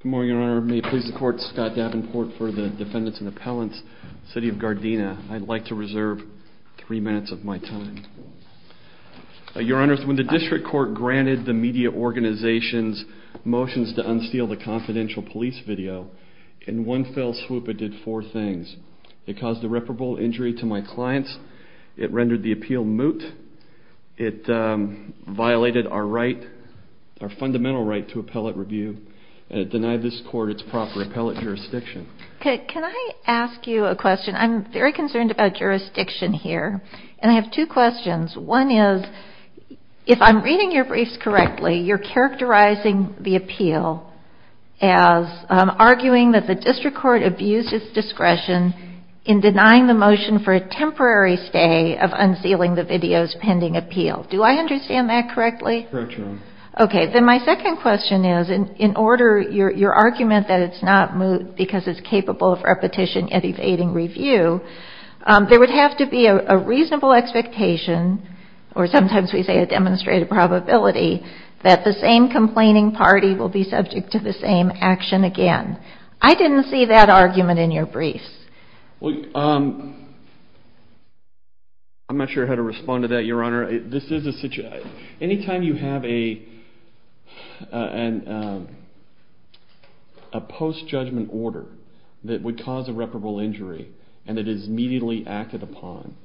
Good morning, Your Honor. May it please the Court, Scott Davenport for the Defendants and Appellants, City of Gardena. I'd like to reserve three minutes of my time. Your Honor, when the District Court granted the media organizations motions to unseal the confidential police video, in one fell swoop it did four things. It caused irreparable injury to my clients, it rendered the appeal moot, it violated our fundamental right to appellate review, and it denied this Court its proper appellate jurisdiction. Can I ask you a question? I'm very concerned about jurisdiction here. And I have two questions. One is, if I'm reading your briefs correctly, you're characterizing the appeal as arguing that the District Court abused its discretion in denying the motion for a temporary stay of unsealing the video's pending appeal. Do I understand that correctly? Correct, Your Honor. Okay, then my second question is, in order, your argument that it's not moot because it's capable of repetition evading review, there would have to be a reasonable expectation, or sometimes we say a demonstrated probability, that the same complaining party will be subject to the same action again. I didn't see that argument in your briefs. I'm not sure how to respond to that, Your Honor. Anytime you have a post-judgment order that would cause irreparable injury, and it is immediately acted upon,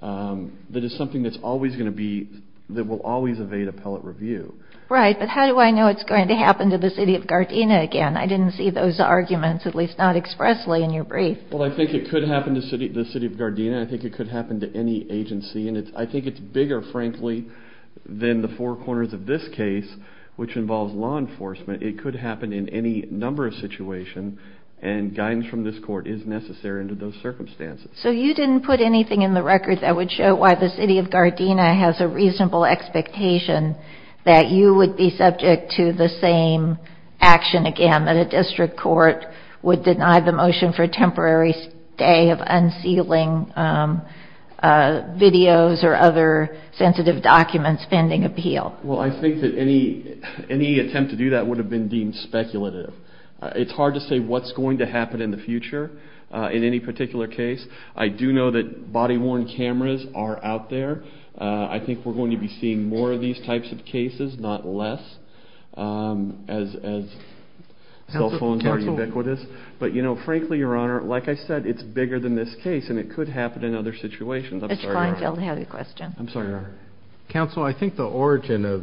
that is something that will always evade appellate review. Right, but how do I know it's going to happen to the City of Gardena again? I didn't see those arguments, at least not expressly, in your brief. Well, I think it could happen to the City of Gardena. I think it could happen to any agency, and I think it's bigger, frankly, than the four corners of this case, which involves law enforcement. It could happen in any number of situations, and guidance from this Court is necessary under those circumstances. So you didn't put anything in the record that would show why the City of Gardena has a reasonable expectation that you would be subject to the same action again, that a district court would deny the motion for temporary stay of unsealing videos or other sensitive documents pending appeal? Well, I think that any attempt to do that would have been deemed speculative. It's hard to say what's going to happen in the future in any particular case. I do know that body-worn cameras are out there. I think we're going to be seeing more of these types of cases, not less, as cell phones are ubiquitous. But, you know, frankly, Your Honor, like I said, it's bigger than this case, and it could happen in other situations. I'm sorry, Your Honor. Mr. Kleinfeld had a question. I'm sorry, Your Honor. Counsel, I think the origin of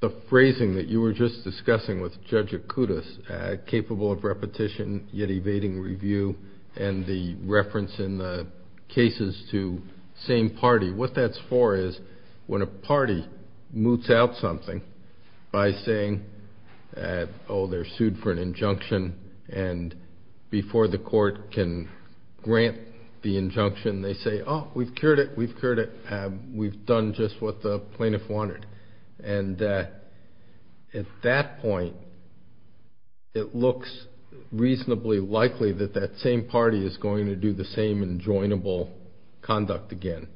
the phrasing that you were just discussing with Judge Acutis, capable of repetition yet evading review, and the reference in the cases to same party, what that's for is when a party moots out something by saying, oh, they're sued for an injunction, and before the court can grant the injunction, they say, oh, we've cured it, we've cured it, we've done just what the plaintiff wanted. And at that point, it looks reasonably likely that that same party is going to do the same enjoinable conduct again.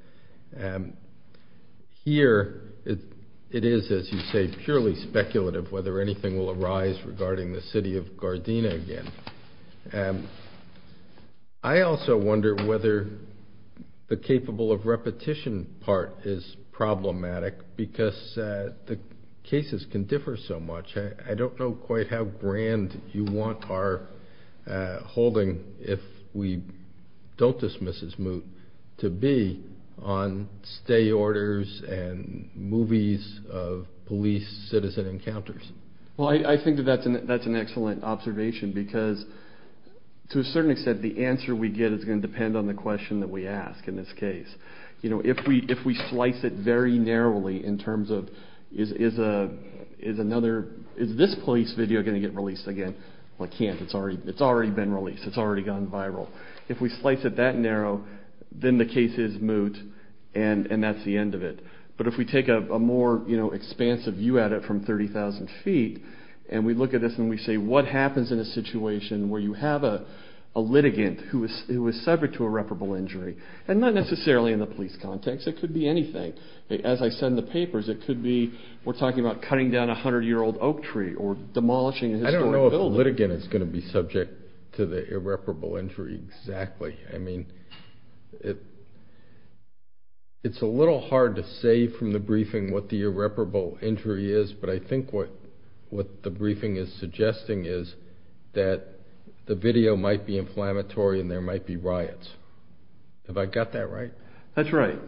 Here, it is, as you say, purely speculative whether anything will arise regarding the city of Gardena again. I also wonder whether the capable of repetition part is problematic, because the cases can differ so much. I don't know quite how grand you want our holding, if we don't dismiss this moot, to be on stay orders and movies of police-citizen encounters. Well, I think that that's an excellent observation, because to a certain extent, the answer we get is going to depend on the question that we ask in this case. If we slice it very narrowly in terms of, is this police video going to get released again? Well, it can't. It's already been released. It's already gone viral. If we slice it that narrow, then the case is moot, and that's the end of it. But if we take a more expansive view at it from 30,000 feet, and we look at this and we say, what happens in a situation where you have a litigant who is subject to irreparable injury? And not necessarily in the police context. It could be anything. As I said in the papers, it could be, we're talking about cutting down a 100-year-old oak tree or demolishing a historic building. I don't know if a litigant is going to be subject to the irreparable injury exactly. I mean, it's a little hard to say from the briefing what the irreparable injury is, but I think what the briefing is suggesting is that the video might be inflammatory and there might be riots. Have I got that right? That's right.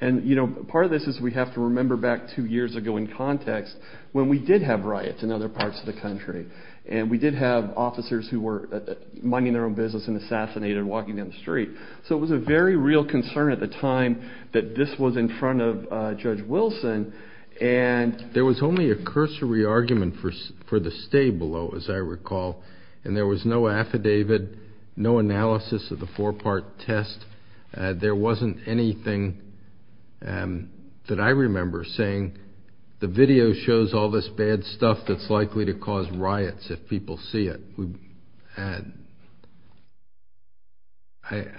And part of this is we have to remember back two years ago in context when we did have riots in other parts of the country. And we did have officers who were minding their own business and assassinated walking down the street. So it was a very real concern at the time that this was in front of Judge Wilson. And there was only a cursory argument for the stay below, as I recall. And there was no affidavit, no analysis of the four-part test. There wasn't anything that I remember saying the video shows all this bad stuff that's likely to cause riots if people see it.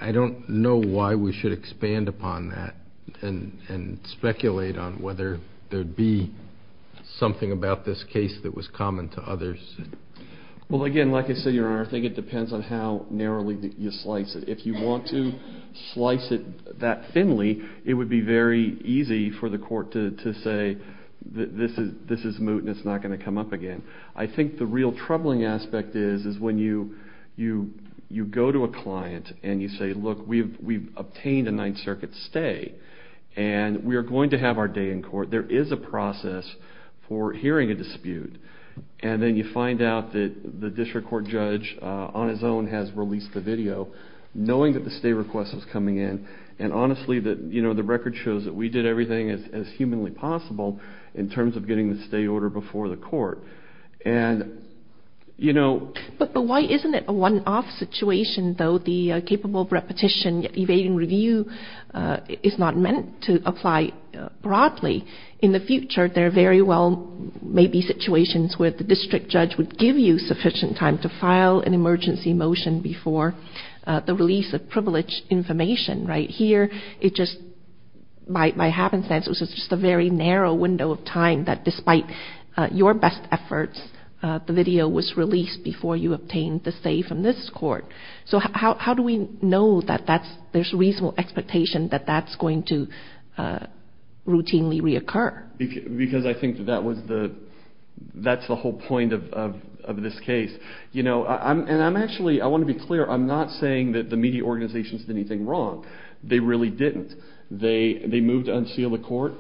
I don't know why we should expand upon that and speculate on whether there would be something about this case that was common to others. Well, again, like I said, Your Honor, I think it depends on how narrowly you slice it. If you want to slice it that thinly, it would be very easy for the court to say this is moot and it's not going to come up again. I think the real troubling aspect is when you go to a client and you say, look, we've obtained a Ninth Circuit stay. And we are going to have our day in court. There is a process for hearing a dispute. And then you find out that the district court judge on his own has released the video, knowing that the stay request was coming in. And honestly, the record shows that we did everything as humanly possible in terms of getting the stay order before the court. But why isn't it a one-off situation, though? The capable repetition evading review is not meant to apply broadly. In the future, there very well may be situations where the district judge would give you sufficient time to file an emergency motion before the release of privileged information. Right here, it just, by happenstance, it was just a very narrow window of time that despite your best efforts, the video was released before you obtained the stay from this court. So how do we know that there's reasonable expectation that that's going to routinely reoccur? Because I think that's the whole point of this case. And I'm actually, I want to be clear, I'm not saying that the media organizations did anything wrong. They really didn't. They moved to unseal the court.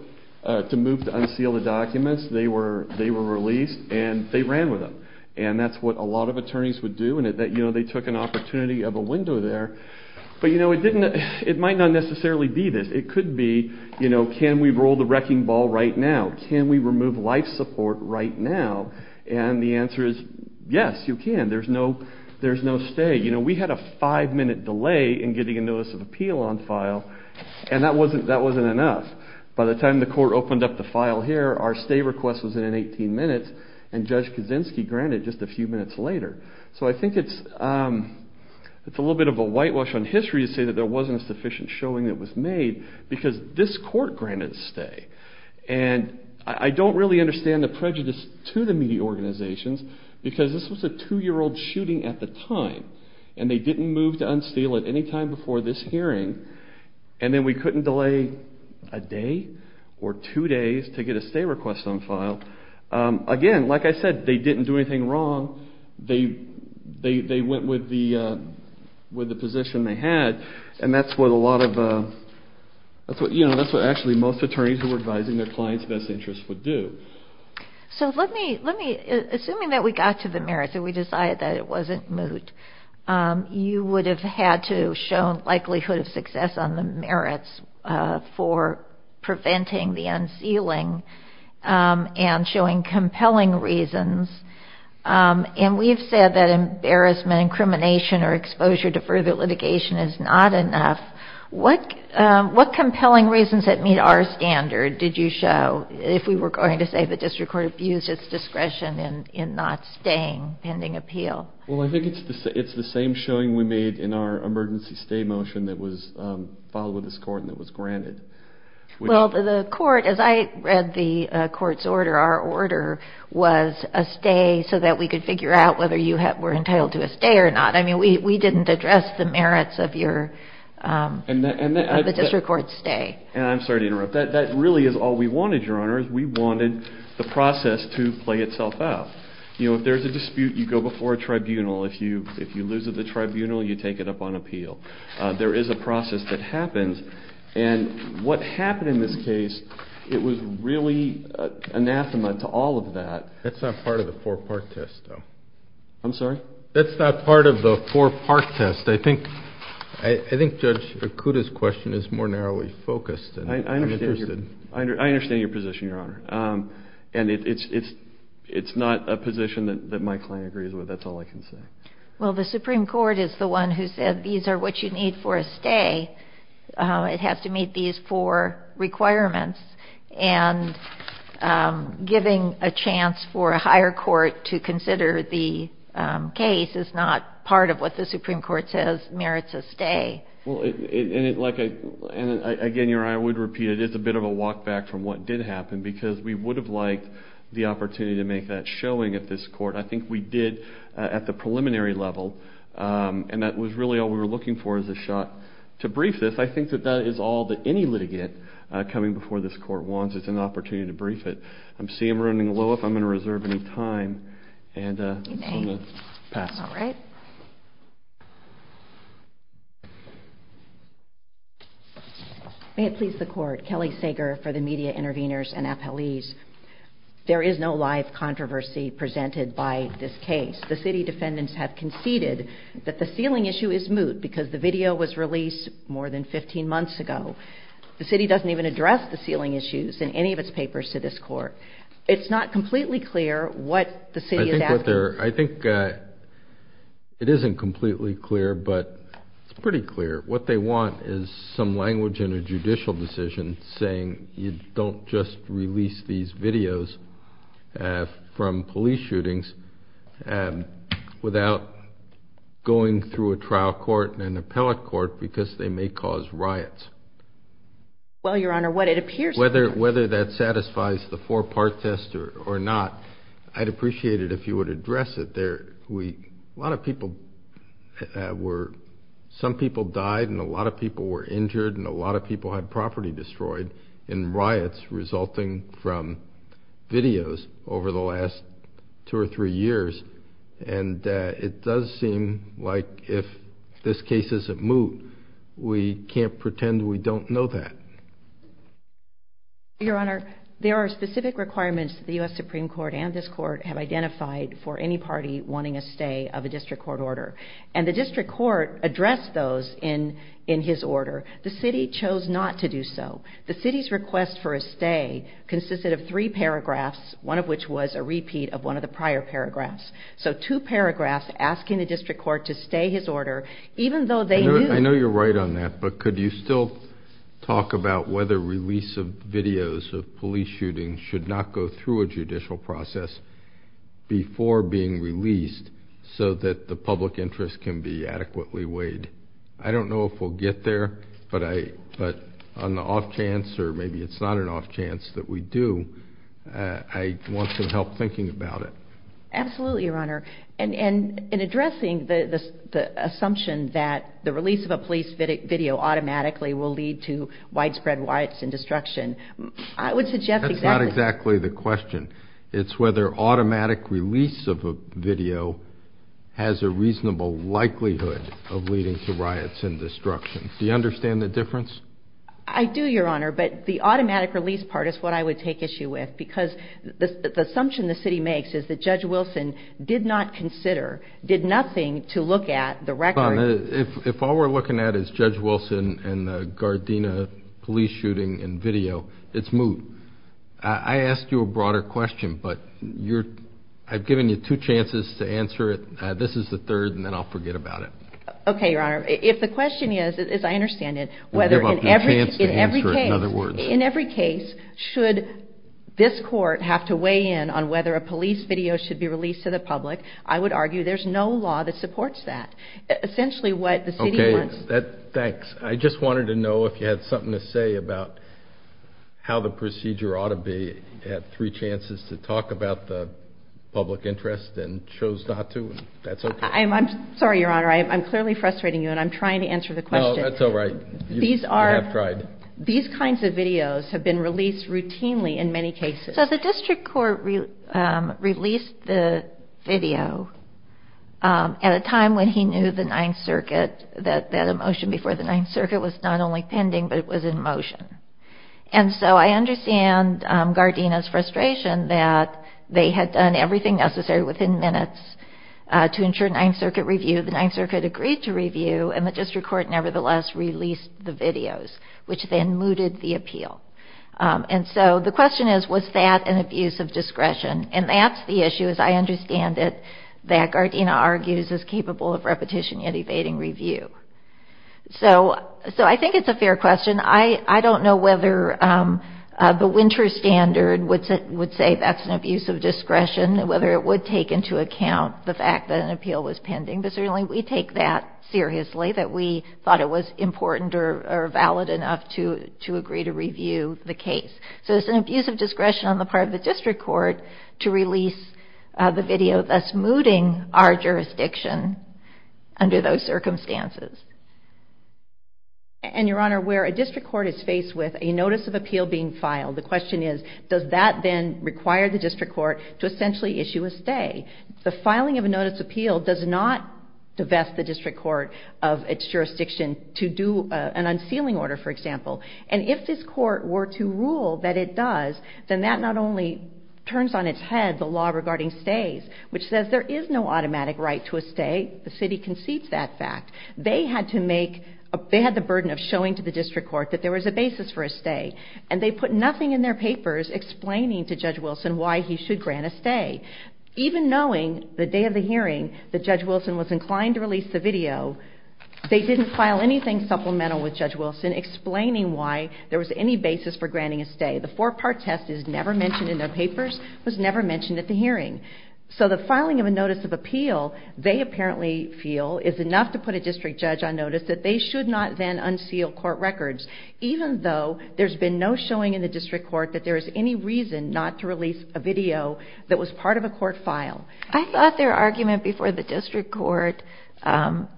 To move to unseal the documents, they were released, and they ran with them. And that's what a lot of attorneys would do, and they took an opportunity of a window there. But it might not necessarily be this. It could be, can we roll the wrecking ball right now? Can we remove life support right now? And the answer is yes, you can. There's no stay. We had a five-minute delay in getting a notice of appeal on file, and that wasn't enough. By the time the court opened up the file here, our stay request was in 18 minutes, and Judge Kaczynski granted it just a few minutes later. So I think it's a little bit of a whitewash on history to say that there wasn't a sufficient showing that was made, because this court granted a stay. And I don't really understand the prejudice to the media organizations, because this was a two-year-old shooting at the time. And they didn't move to unseal it any time before this hearing. And then we couldn't delay a day or two days to get a stay request on file. Again, like I said, they didn't do anything wrong. They went with the position they had, and that's what a lot of, you know, that's what actually most attorneys who were advising their clients' best interests would do. So let me, assuming that we got to the merits and we decided that it wasn't moot, you would have had to show likelihood of success on the merits for preventing the unsealing and showing compelling reasons. And we've said that embarrassment, incrimination, or exposure to further litigation is not enough. What compelling reasons that meet our standard did you show, if we were going to say the district court abused its discretion in not staying pending appeal? Well, I think it's the same showing we made in our emergency stay motion that was filed with this court and that was granted. Well, the court, as I read the court's order, our order was a stay so that we could figure out whether you were entitled to a stay or not. I mean, we didn't address the merits of your, of the district court's stay. And I'm sorry to interrupt. That really is all we wanted, Your Honor, is we wanted the process to play itself out. You know, if there's a dispute, you go before a tribunal. If you lose at the tribunal, you take it up on appeal. There is a process that happens. And what happened in this case, it was really anathema to all of that. That's not part of the four-part test, though. I'm sorry? That's not part of the four-part test. I think Judge Fukuda's question is more narrowly focused. I understand your position, Your Honor. And it's not a position that my client agrees with. That's all I can say. Well, the Supreme Court is the one who said these are what you need for a stay. It has to meet these four requirements. And giving a chance for a higher court to consider the case is not part of what the Supreme Court says merits a stay. Again, Your Honor, I would repeat it. It's a bit of a walk back from what did happen because we would have liked the opportunity to make that showing at this court. I think we did at the preliminary level. And that was really all we were looking for is a shot to brief this. I think that that is all that any litigant coming before this court wants is an opportunity to brief it. I see I'm running low. If I'm going to reserve any time, I'm going to pass it. All right. May it please the Court. Kelly Sager for the media interveners and appellees. There is no live controversy presented by this case. The city defendants have conceded that the ceiling issue is moot because the video was released more than 15 months ago. The city doesn't even address the ceiling issues in any of its papers to this court. It's not completely clear what the city is asking. Well, Your Honor, I think it isn't completely clear, but it's pretty clear. What they want is some language in a judicial decision saying you don't just release these videos from police shootings without going through a trial court and an appellate court because they may cause riots. Well, Your Honor, what it appears to be. I'd appreciate it if you would address it. A lot of people died and a lot of people were injured and a lot of people had property destroyed in riots resulting from videos over the last two or three years. And it does seem like if this case isn't moot, we can't pretend we don't know that. Your Honor, there are specific requirements that the U.S. Supreme Court and this court have identified for any party wanting a stay of a district court order. And the district court addressed those in his order. The city chose not to do so. The city's request for a stay consisted of three paragraphs, one of which was a repeat of one of the prior paragraphs. So two paragraphs asking the district court to stay his order even though they knew... ...about whether release of videos of police shootings should not go through a judicial process before being released so that the public interest can be adequately weighed. I don't know if we'll get there, but on the off chance or maybe it's not an off chance that we do, I want some help thinking about it. Absolutely, Your Honor. And in addressing the assumption that the release of a police video automatically will lead to widespread riots and destruction, I would suggest... That's not exactly the question. It's whether automatic release of a video has a reasonable likelihood of leading to riots and destruction. Do you understand the difference? I do, Your Honor, but the automatic release part is what I would take issue with. Because the assumption the city makes is that Judge Wilson did not consider, did nothing to look at the record. If all we're looking at is Judge Wilson and the Gardena police shooting and video, it's moot. I ask you a broader question, but I've given you two chances to answer it. This is the third, and then I'll forget about it. Okay, Your Honor. If the question is, as I understand it, whether in every case should this court have to weigh in on whether a police video should be released to the public, I would argue there's no law that supports that. Okay, thanks. I just wanted to know if you had something to say about how the procedure ought to be to have three chances to talk about the public interest and chose not to. That's okay. I'm sorry, Your Honor. I'm clearly frustrating you, and I'm trying to answer the question. No, that's all right. I have tried. These kinds of videos have been released routinely in many cases. So the district court released the video at a time when he knew the Ninth Circuit, that a motion before the Ninth Circuit was not only pending, but it was in motion. And so I understand Gardena's frustration that they had done everything necessary within minutes to ensure Ninth Circuit review. The Ninth Circuit agreed to review, and the district court nevertheless released the videos, which then mooted the appeal. And so the question is, was that an abuse of discretion? And that's the issue, as I understand it, that Gardena argues is capable of repetition yet evading review. So I think it's a fair question. I don't know whether the winter standard would say that's an abuse of discretion, whether it would take into account the fact that an appeal was pending. But certainly we take that seriously, that we thought it was important or valid enough to agree to review the case. So it's an abuse of discretion on the part of the district court to release the video, thus mooting our jurisdiction under those circumstances. And, Your Honor, where a district court is faced with a notice of appeal being filed, the question is, does that then require the district court to essentially issue a stay? The filing of a notice of appeal does not divest the district court of its jurisdiction to do an unsealing order, for example. And if this court were to rule that it does, then that not only turns on its head the law regarding stays, which says there is no automatic right to a stay. The city concedes that fact. They had the burden of showing to the district court that there was a basis for a stay. And they put nothing in their papers explaining to Judge Wilson why he should grant a stay. Even knowing the day of the hearing that Judge Wilson was inclined to release the video, they didn't file anything supplemental with Judge Wilson explaining why there was any basis for granting a stay. The four-part test is never mentioned in their papers, was never mentioned at the hearing. So the filing of a notice of appeal, they apparently feel, is enough to put a district judge on notice that they should not then unseal court records, even though there's been no showing in the district court that there is any reason not to release a video that was part of a court file. I thought their argument before the district court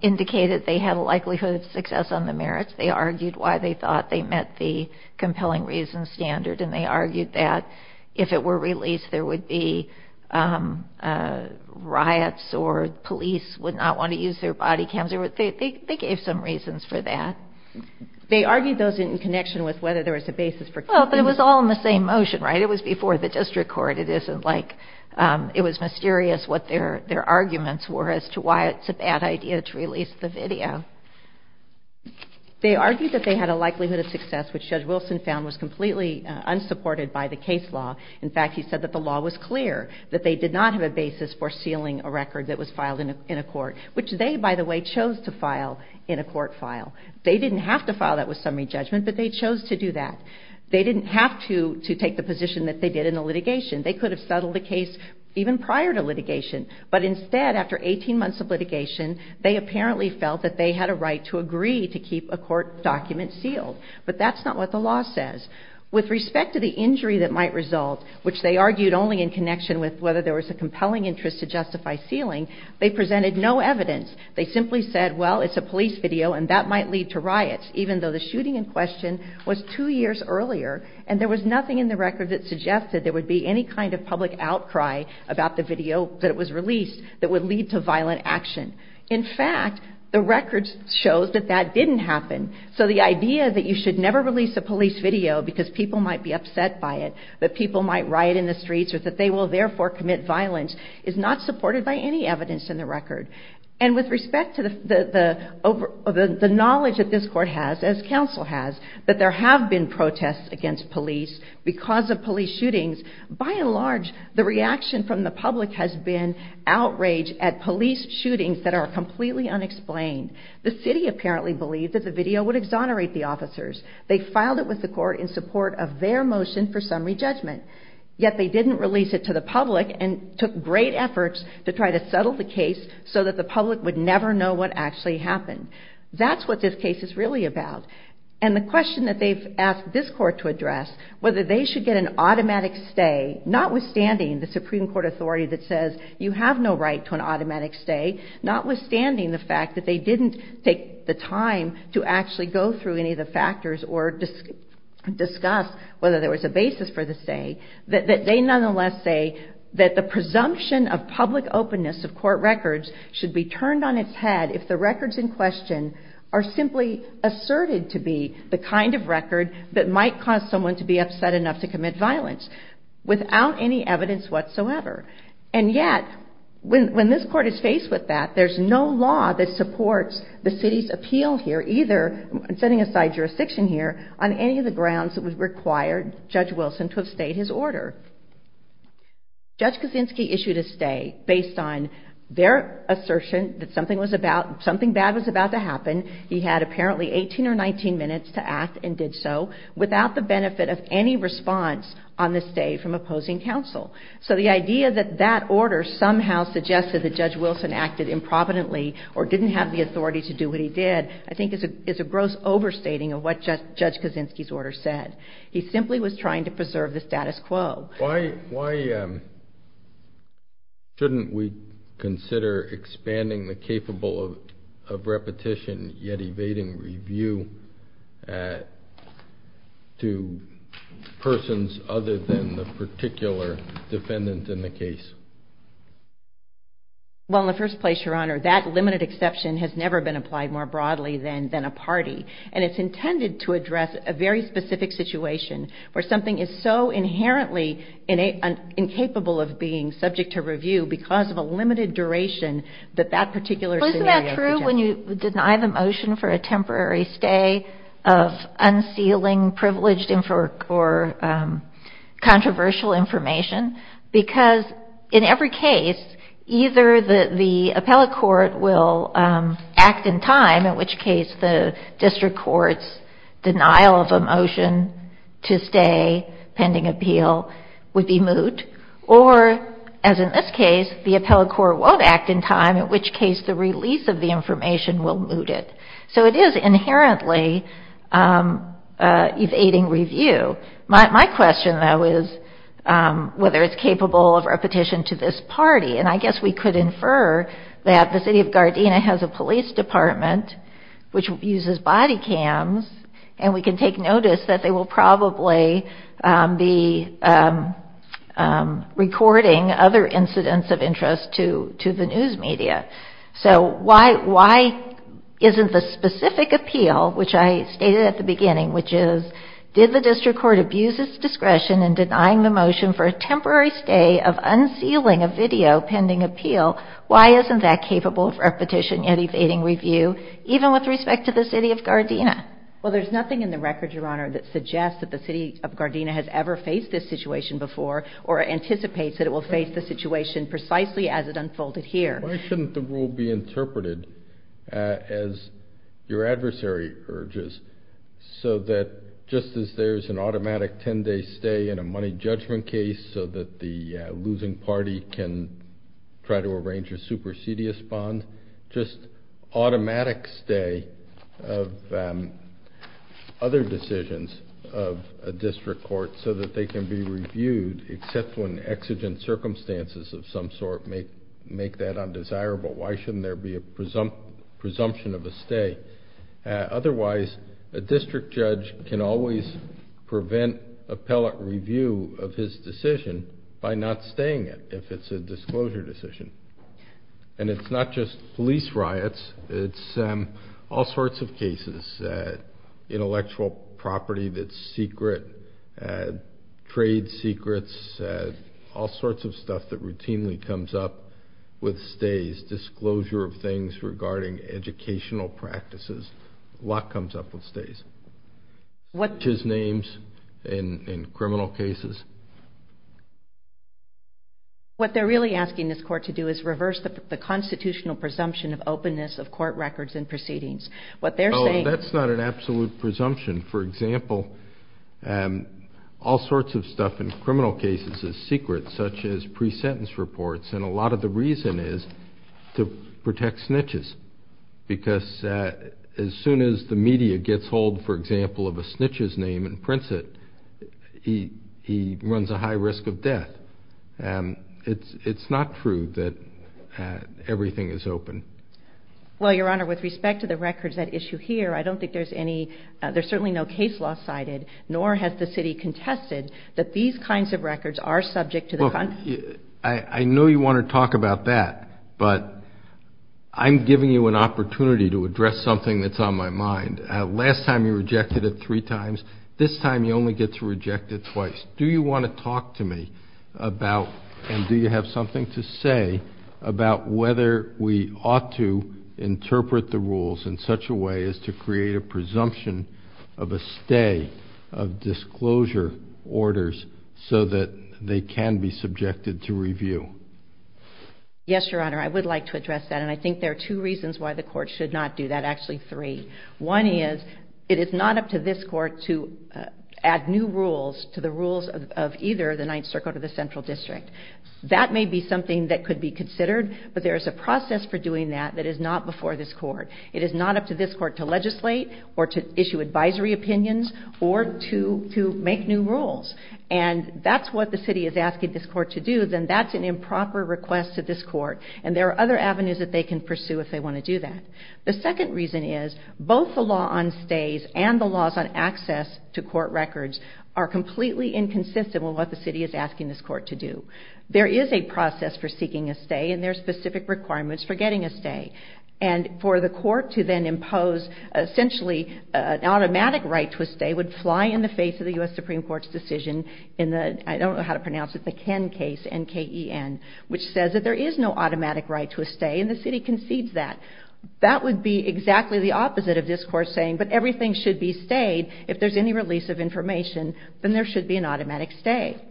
indicated they had a likelihood of success on the merits. They argued why they thought they met the compelling reasons standard, and they argued that if it were released, there would be riots or police would not want to use their body cams. They gave some reasons for that. They argued those in connection with whether there was a basis for keeping it. Well, but it was all in the same motion, right? It was before the district court. It isn't like it was mysterious what their arguments were as to why it's a bad idea to release the video. They argued that they had a likelihood of success, which Judge Wilson found was completely unsupported by the case law. In fact, he said that the law was clear, that they did not have a basis for sealing a record that was filed in a court, which they, by the way, chose to file in a court file. They didn't have to file that with summary judgment, but they chose to do that. They didn't have to take the position that they did in the litigation. They could have settled the case even prior to litigation, but instead, after 18 months of litigation, they apparently felt that they had a right to agree to keep a court document sealed. But that's not what the law says. With respect to the injury that might result, which they argued only in connection with whether there was a compelling interest to justify sealing, they presented no evidence. They simply said, well, it's a police video, and that might lead to riots, even though the shooting in question was two years earlier, and there was nothing in the record that suggested there would be any kind of public outcry about the video that was released that would lead to violent action. In fact, the record shows that that didn't happen. So the idea that you should never release a police video because people might be upset by it, that people might riot in the streets, or that they will therefore commit violence, is not supported by any evidence in the record. And with respect to the knowledge that this court has, as counsel has, that there have been protests against police because of police shootings, by and large, the reaction from the public has been outrage at police shootings that are completely unexplained. The city apparently believed that the video would exonerate the officers. They filed it with the court in support of their motion for summary judgment. Yet they didn't release it to the public and took great efforts to try to settle the case so that the public would never know what actually happened. That's what this case is really about. And the question that they've asked this court to address, whether they should get an automatic stay, notwithstanding the Supreme Court authority that says you have no right to an automatic stay, notwithstanding the fact that they didn't take the time to actually go through any of the factors or discuss whether there was a basis for the stay, that they nonetheless say that the presumption of public openness of court records should be turned on its head if the records in question are simply asserted to be the kind of record that might cause someone to be upset enough to commit violence without any evidence whatsoever. And yet, when this court is faced with that, there's no law that supports the city's appeal here either, setting aside jurisdiction here, on any of the grounds that would require Judge Wilson to have stayed his order. Judge Kaczynski issued a stay based on their assertion that something bad was about to happen. He had apparently 18 or 19 minutes to act and did so without the benefit of any response on the stay from opposing counsel. So the idea that that order somehow suggested that Judge Wilson acted improvidently or didn't have the authority to do what he did, I think is a gross overstating of what Judge Kaczynski's order said. He simply was trying to preserve the status quo. Why shouldn't we consider expanding the capable of repetition, yet evading review to persons other than the particular defendant in the case? Well, in the first place, Your Honor, that limited exception has never been applied more broadly than a party. And it's intended to address a very specific situation where something is so inherently incapable of being subject to review because of a limited duration that that particular scenario suggests. Well, isn't that true when you deny the motion for a temporary stay of unsealing privileged or controversial information? Because in every case, either the appellate court will act in time, in which case the district court's denial of a motion to stay pending appeal would be moot, or, as in this case, the appellate court won't act in time, in which case the release of the information will moot it. So it is inherently evading review. My question, though, is whether it's capable of repetition to this party. And I guess we could infer that the city of Gardena has a police department which uses body cams, and we can take notice that they will probably be recording other incidents of interest to the news media. So why isn't the specific appeal, which I stated at the beginning, which is did the district court abuse its discretion in denying the motion for a temporary stay of unsealing a video pending appeal, why isn't that capable of repetition yet evading review, even with respect to the city of Gardena? Well, there's nothing in the record, Your Honor, that suggests that the city of Gardena has ever faced this situation before or anticipates that it will face the situation precisely as it unfolded here. Why shouldn't the rule be interpreted as your adversary urges, so that just as there's an automatic 10-day stay in a money judgment case so that the losing party can try to arrange a supersedious bond, just automatic stay of other decisions of a district court so that they can be reviewed, except when exigent circumstances of some sort make that undesirable? Why shouldn't there be a presumption of a stay? Otherwise, a district judge can always prevent appellate review of his decision by not staying it if it's a disclosure decision. And it's not just police riots. It's all sorts of cases, intellectual property that's secret, trade secrets, all sorts of stuff that routinely comes up with stays, such as disclosure of things regarding educational practices. A lot comes up with stays, such as names in criminal cases. What they're really asking this court to do is reverse the constitutional presumption of openness of court records and proceedings. Oh, that's not an absolute presumption. For example, all sorts of stuff in criminal cases is secret, such as pre-sentence reports, and a lot of the reason is to protect snitches, because as soon as the media gets hold, for example, of a snitch's name and prints it, he runs a high risk of death. It's not true that everything is open. Well, Your Honor, with respect to the records at issue here, I don't think there's any, there's certainly no case law cited, nor has the city contested that these kinds of records are subject to the constitution. I know you want to talk about that, but I'm giving you an opportunity to address something that's on my mind. Last time you rejected it three times. This time you only get to reject it twice. Do you want to talk to me about, and do you have something to say, about whether we ought to interpret the rules in such a way as to create a presumption of a stay, of disclosure orders so that they can be subjected to review? Yes, Your Honor, I would like to address that, and I think there are two reasons why the court should not do that, actually three. One is it is not up to this court to add new rules to the rules of either the Ninth Circle or the Central District. That may be something that could be considered, but there is a process for doing that that is not before this court. It is not up to this court to legislate or to issue advisory opinions or to make new rules, and that's what the city is asking this court to do. Then that's an improper request to this court, and there are other avenues that they can pursue if they want to do that. The second reason is both the law on stays and the laws on access to court records are completely inconsistent with what the city is asking this court to do. There is a process for seeking a stay, and there are specific requirements for getting a stay. And for the court to then impose essentially an automatic right to a stay would fly in the face of the U.S. Supreme Court's decision in the, I don't know how to pronounce it, the Ken case, N-K-E-N, which says that there is no automatic right to a stay, and the city concedes that. That would be exactly the opposite of this court saying, but everything should be stayed if there's any release of information, then there should be an automatic stay.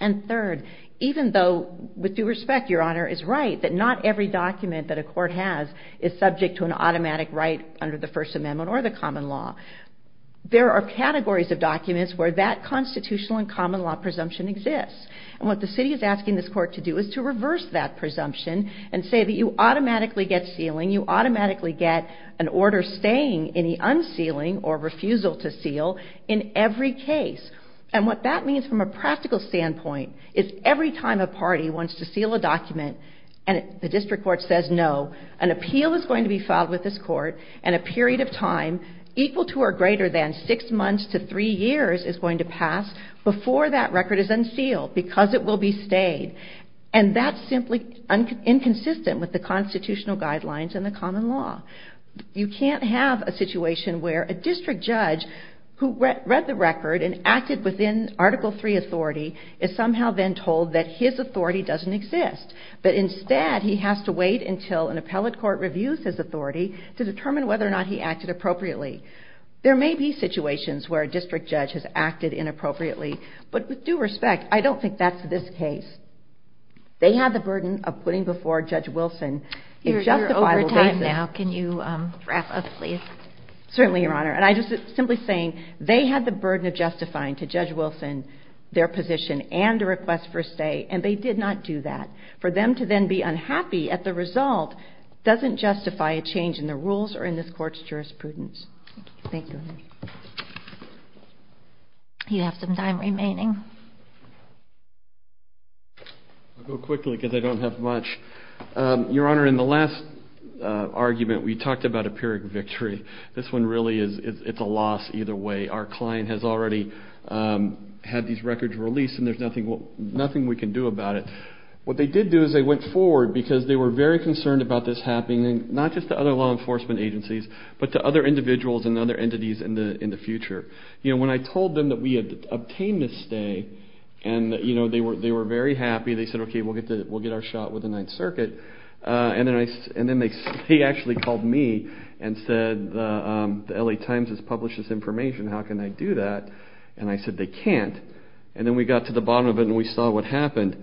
And third, even though, with due respect, Your Honor, is right that not every document that a court has is subject to an automatic right under the First Amendment or the common law. There are categories of documents where that constitutional and common law presumption exists. And what the city is asking this court to do is to reverse that presumption and say that you automatically get sealing, you automatically get an order staying any unsealing or refusal to seal in every case. And what that means from a practical standpoint is every time a party wants to seal a document and the district court says no, an appeal is going to be filed with this court and a period of time equal to or greater than six months to three years is going to pass before that record is unsealed because it will be stayed. And that's simply inconsistent with the constitutional guidelines and the common law. You can't have a situation where a district judge who read the record and acted within Article III authority is somehow then told that his authority doesn't exist, but instead he has to wait until an appellate court reviews his authority to determine whether or not he acted appropriately. There may be situations where a district judge has acted inappropriately, but with due respect, I don't think that's this case. They have the burden of putting before Judge Wilson if just the final basis... You're over time now. Can you wrap up, please? Certainly, Your Honor. And I'm just simply saying they had the burden of justifying to Judge Wilson their position and a request for a stay, and they did not do that. For them to then be unhappy at the result doesn't justify a change in the rules or in this court's jurisprudence. Thank you. You have some time remaining. I'll go quickly because I don't have much. Your Honor, in the last argument we talked about empiric victory. This one really is a loss either way. Our client has already had these records released, and there's nothing we can do about it. What they did do is they went forward because they were very concerned about this happening, not just to other law enforcement agencies, but to other individuals and other entities in the future. When I told them that we had obtained a stay, they were very happy. They said, okay, we'll get our shot with the Ninth Circuit. He actually called me and said, the L.A. Times has published this information. How can I do that? And I said, they can't. And then we got to the bottom of it and we saw what happened.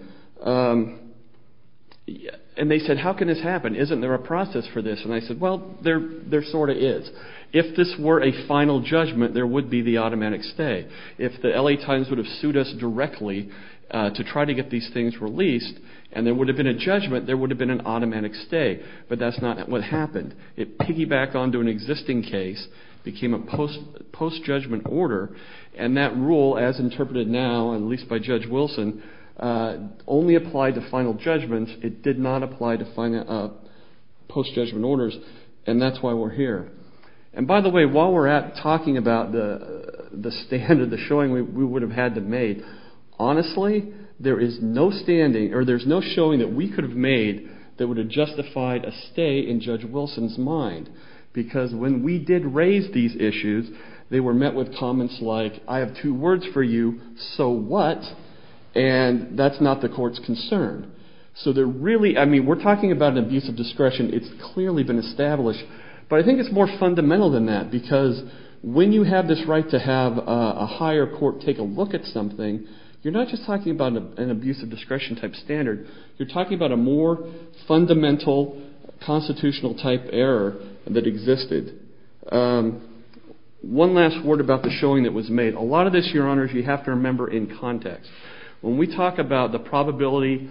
And they said, how can this happen? Isn't there a process for this? And I said, well, there sort of is. If this were a final judgment, there would be the automatic stay. If the L.A. Times would have sued us directly to try to get these things released, and there would have been a judgment, there would have been an automatic stay. But that's not what happened. It piggybacked onto an existing case, became a post-judgment order, and that rule, as interpreted now, at least by Judge Wilson, only applied to final judgments. It did not apply to post-judgment orders. And that's why we're here. And by the way, while we're out talking about the stand or the showing we would have had to make, honestly, there is no standing or there's no showing that we could have made that would have justified a stay in Judge Wilson's mind. Because when we did raise these issues, they were met with comments like, I have two words for you, so what? And that's not the court's concern. So they're really, I mean, we're talking about an abuse of discretion. It's clearly been established. But I think it's more fundamental than that because when you have this right to have a higher court take a look at something, you're not just talking about an abuse of discretion type standard, you're talking about a more fundamental constitutional type error that existed. One last word about the showing that was made. A lot of this, Your Honors, you have to remember in context. When we talk about the probability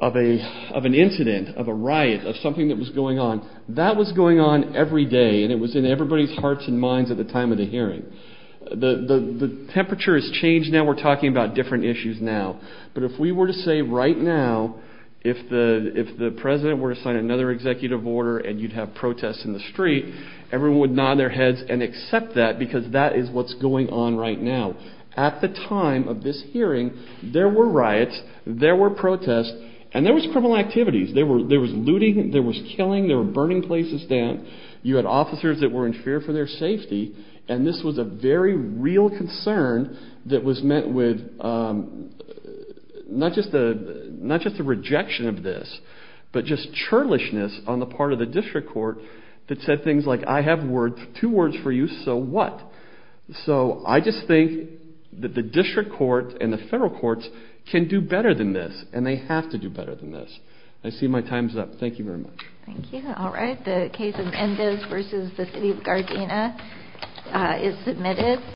of an incident, of a riot, of something that was going on, that was going on every day, and it was in everybody's hearts and minds at the time of the hearing. The temperature has changed now. We're talking about different issues now. But if we were to say right now, if the president were to sign another executive order and you'd have protests in the street, everyone would nod their heads and accept that because that is what's going on right now. At the time of this hearing, there were riots, there were protests, and there was criminal activities. There was looting, there was killing, there were burning places down. You had officers that were in fear for their safety, and this was a very real concern that was met with not just a rejection of this, but just churlishness on the part of the district court that said things like, I have two words for you, so what? So I just think that the district court and the federal courts can do better than this, and they have to do better than this. I see my time's up. Thank you very much. Thank you. All right. The case of Endez v. The City of Gardena is submitted.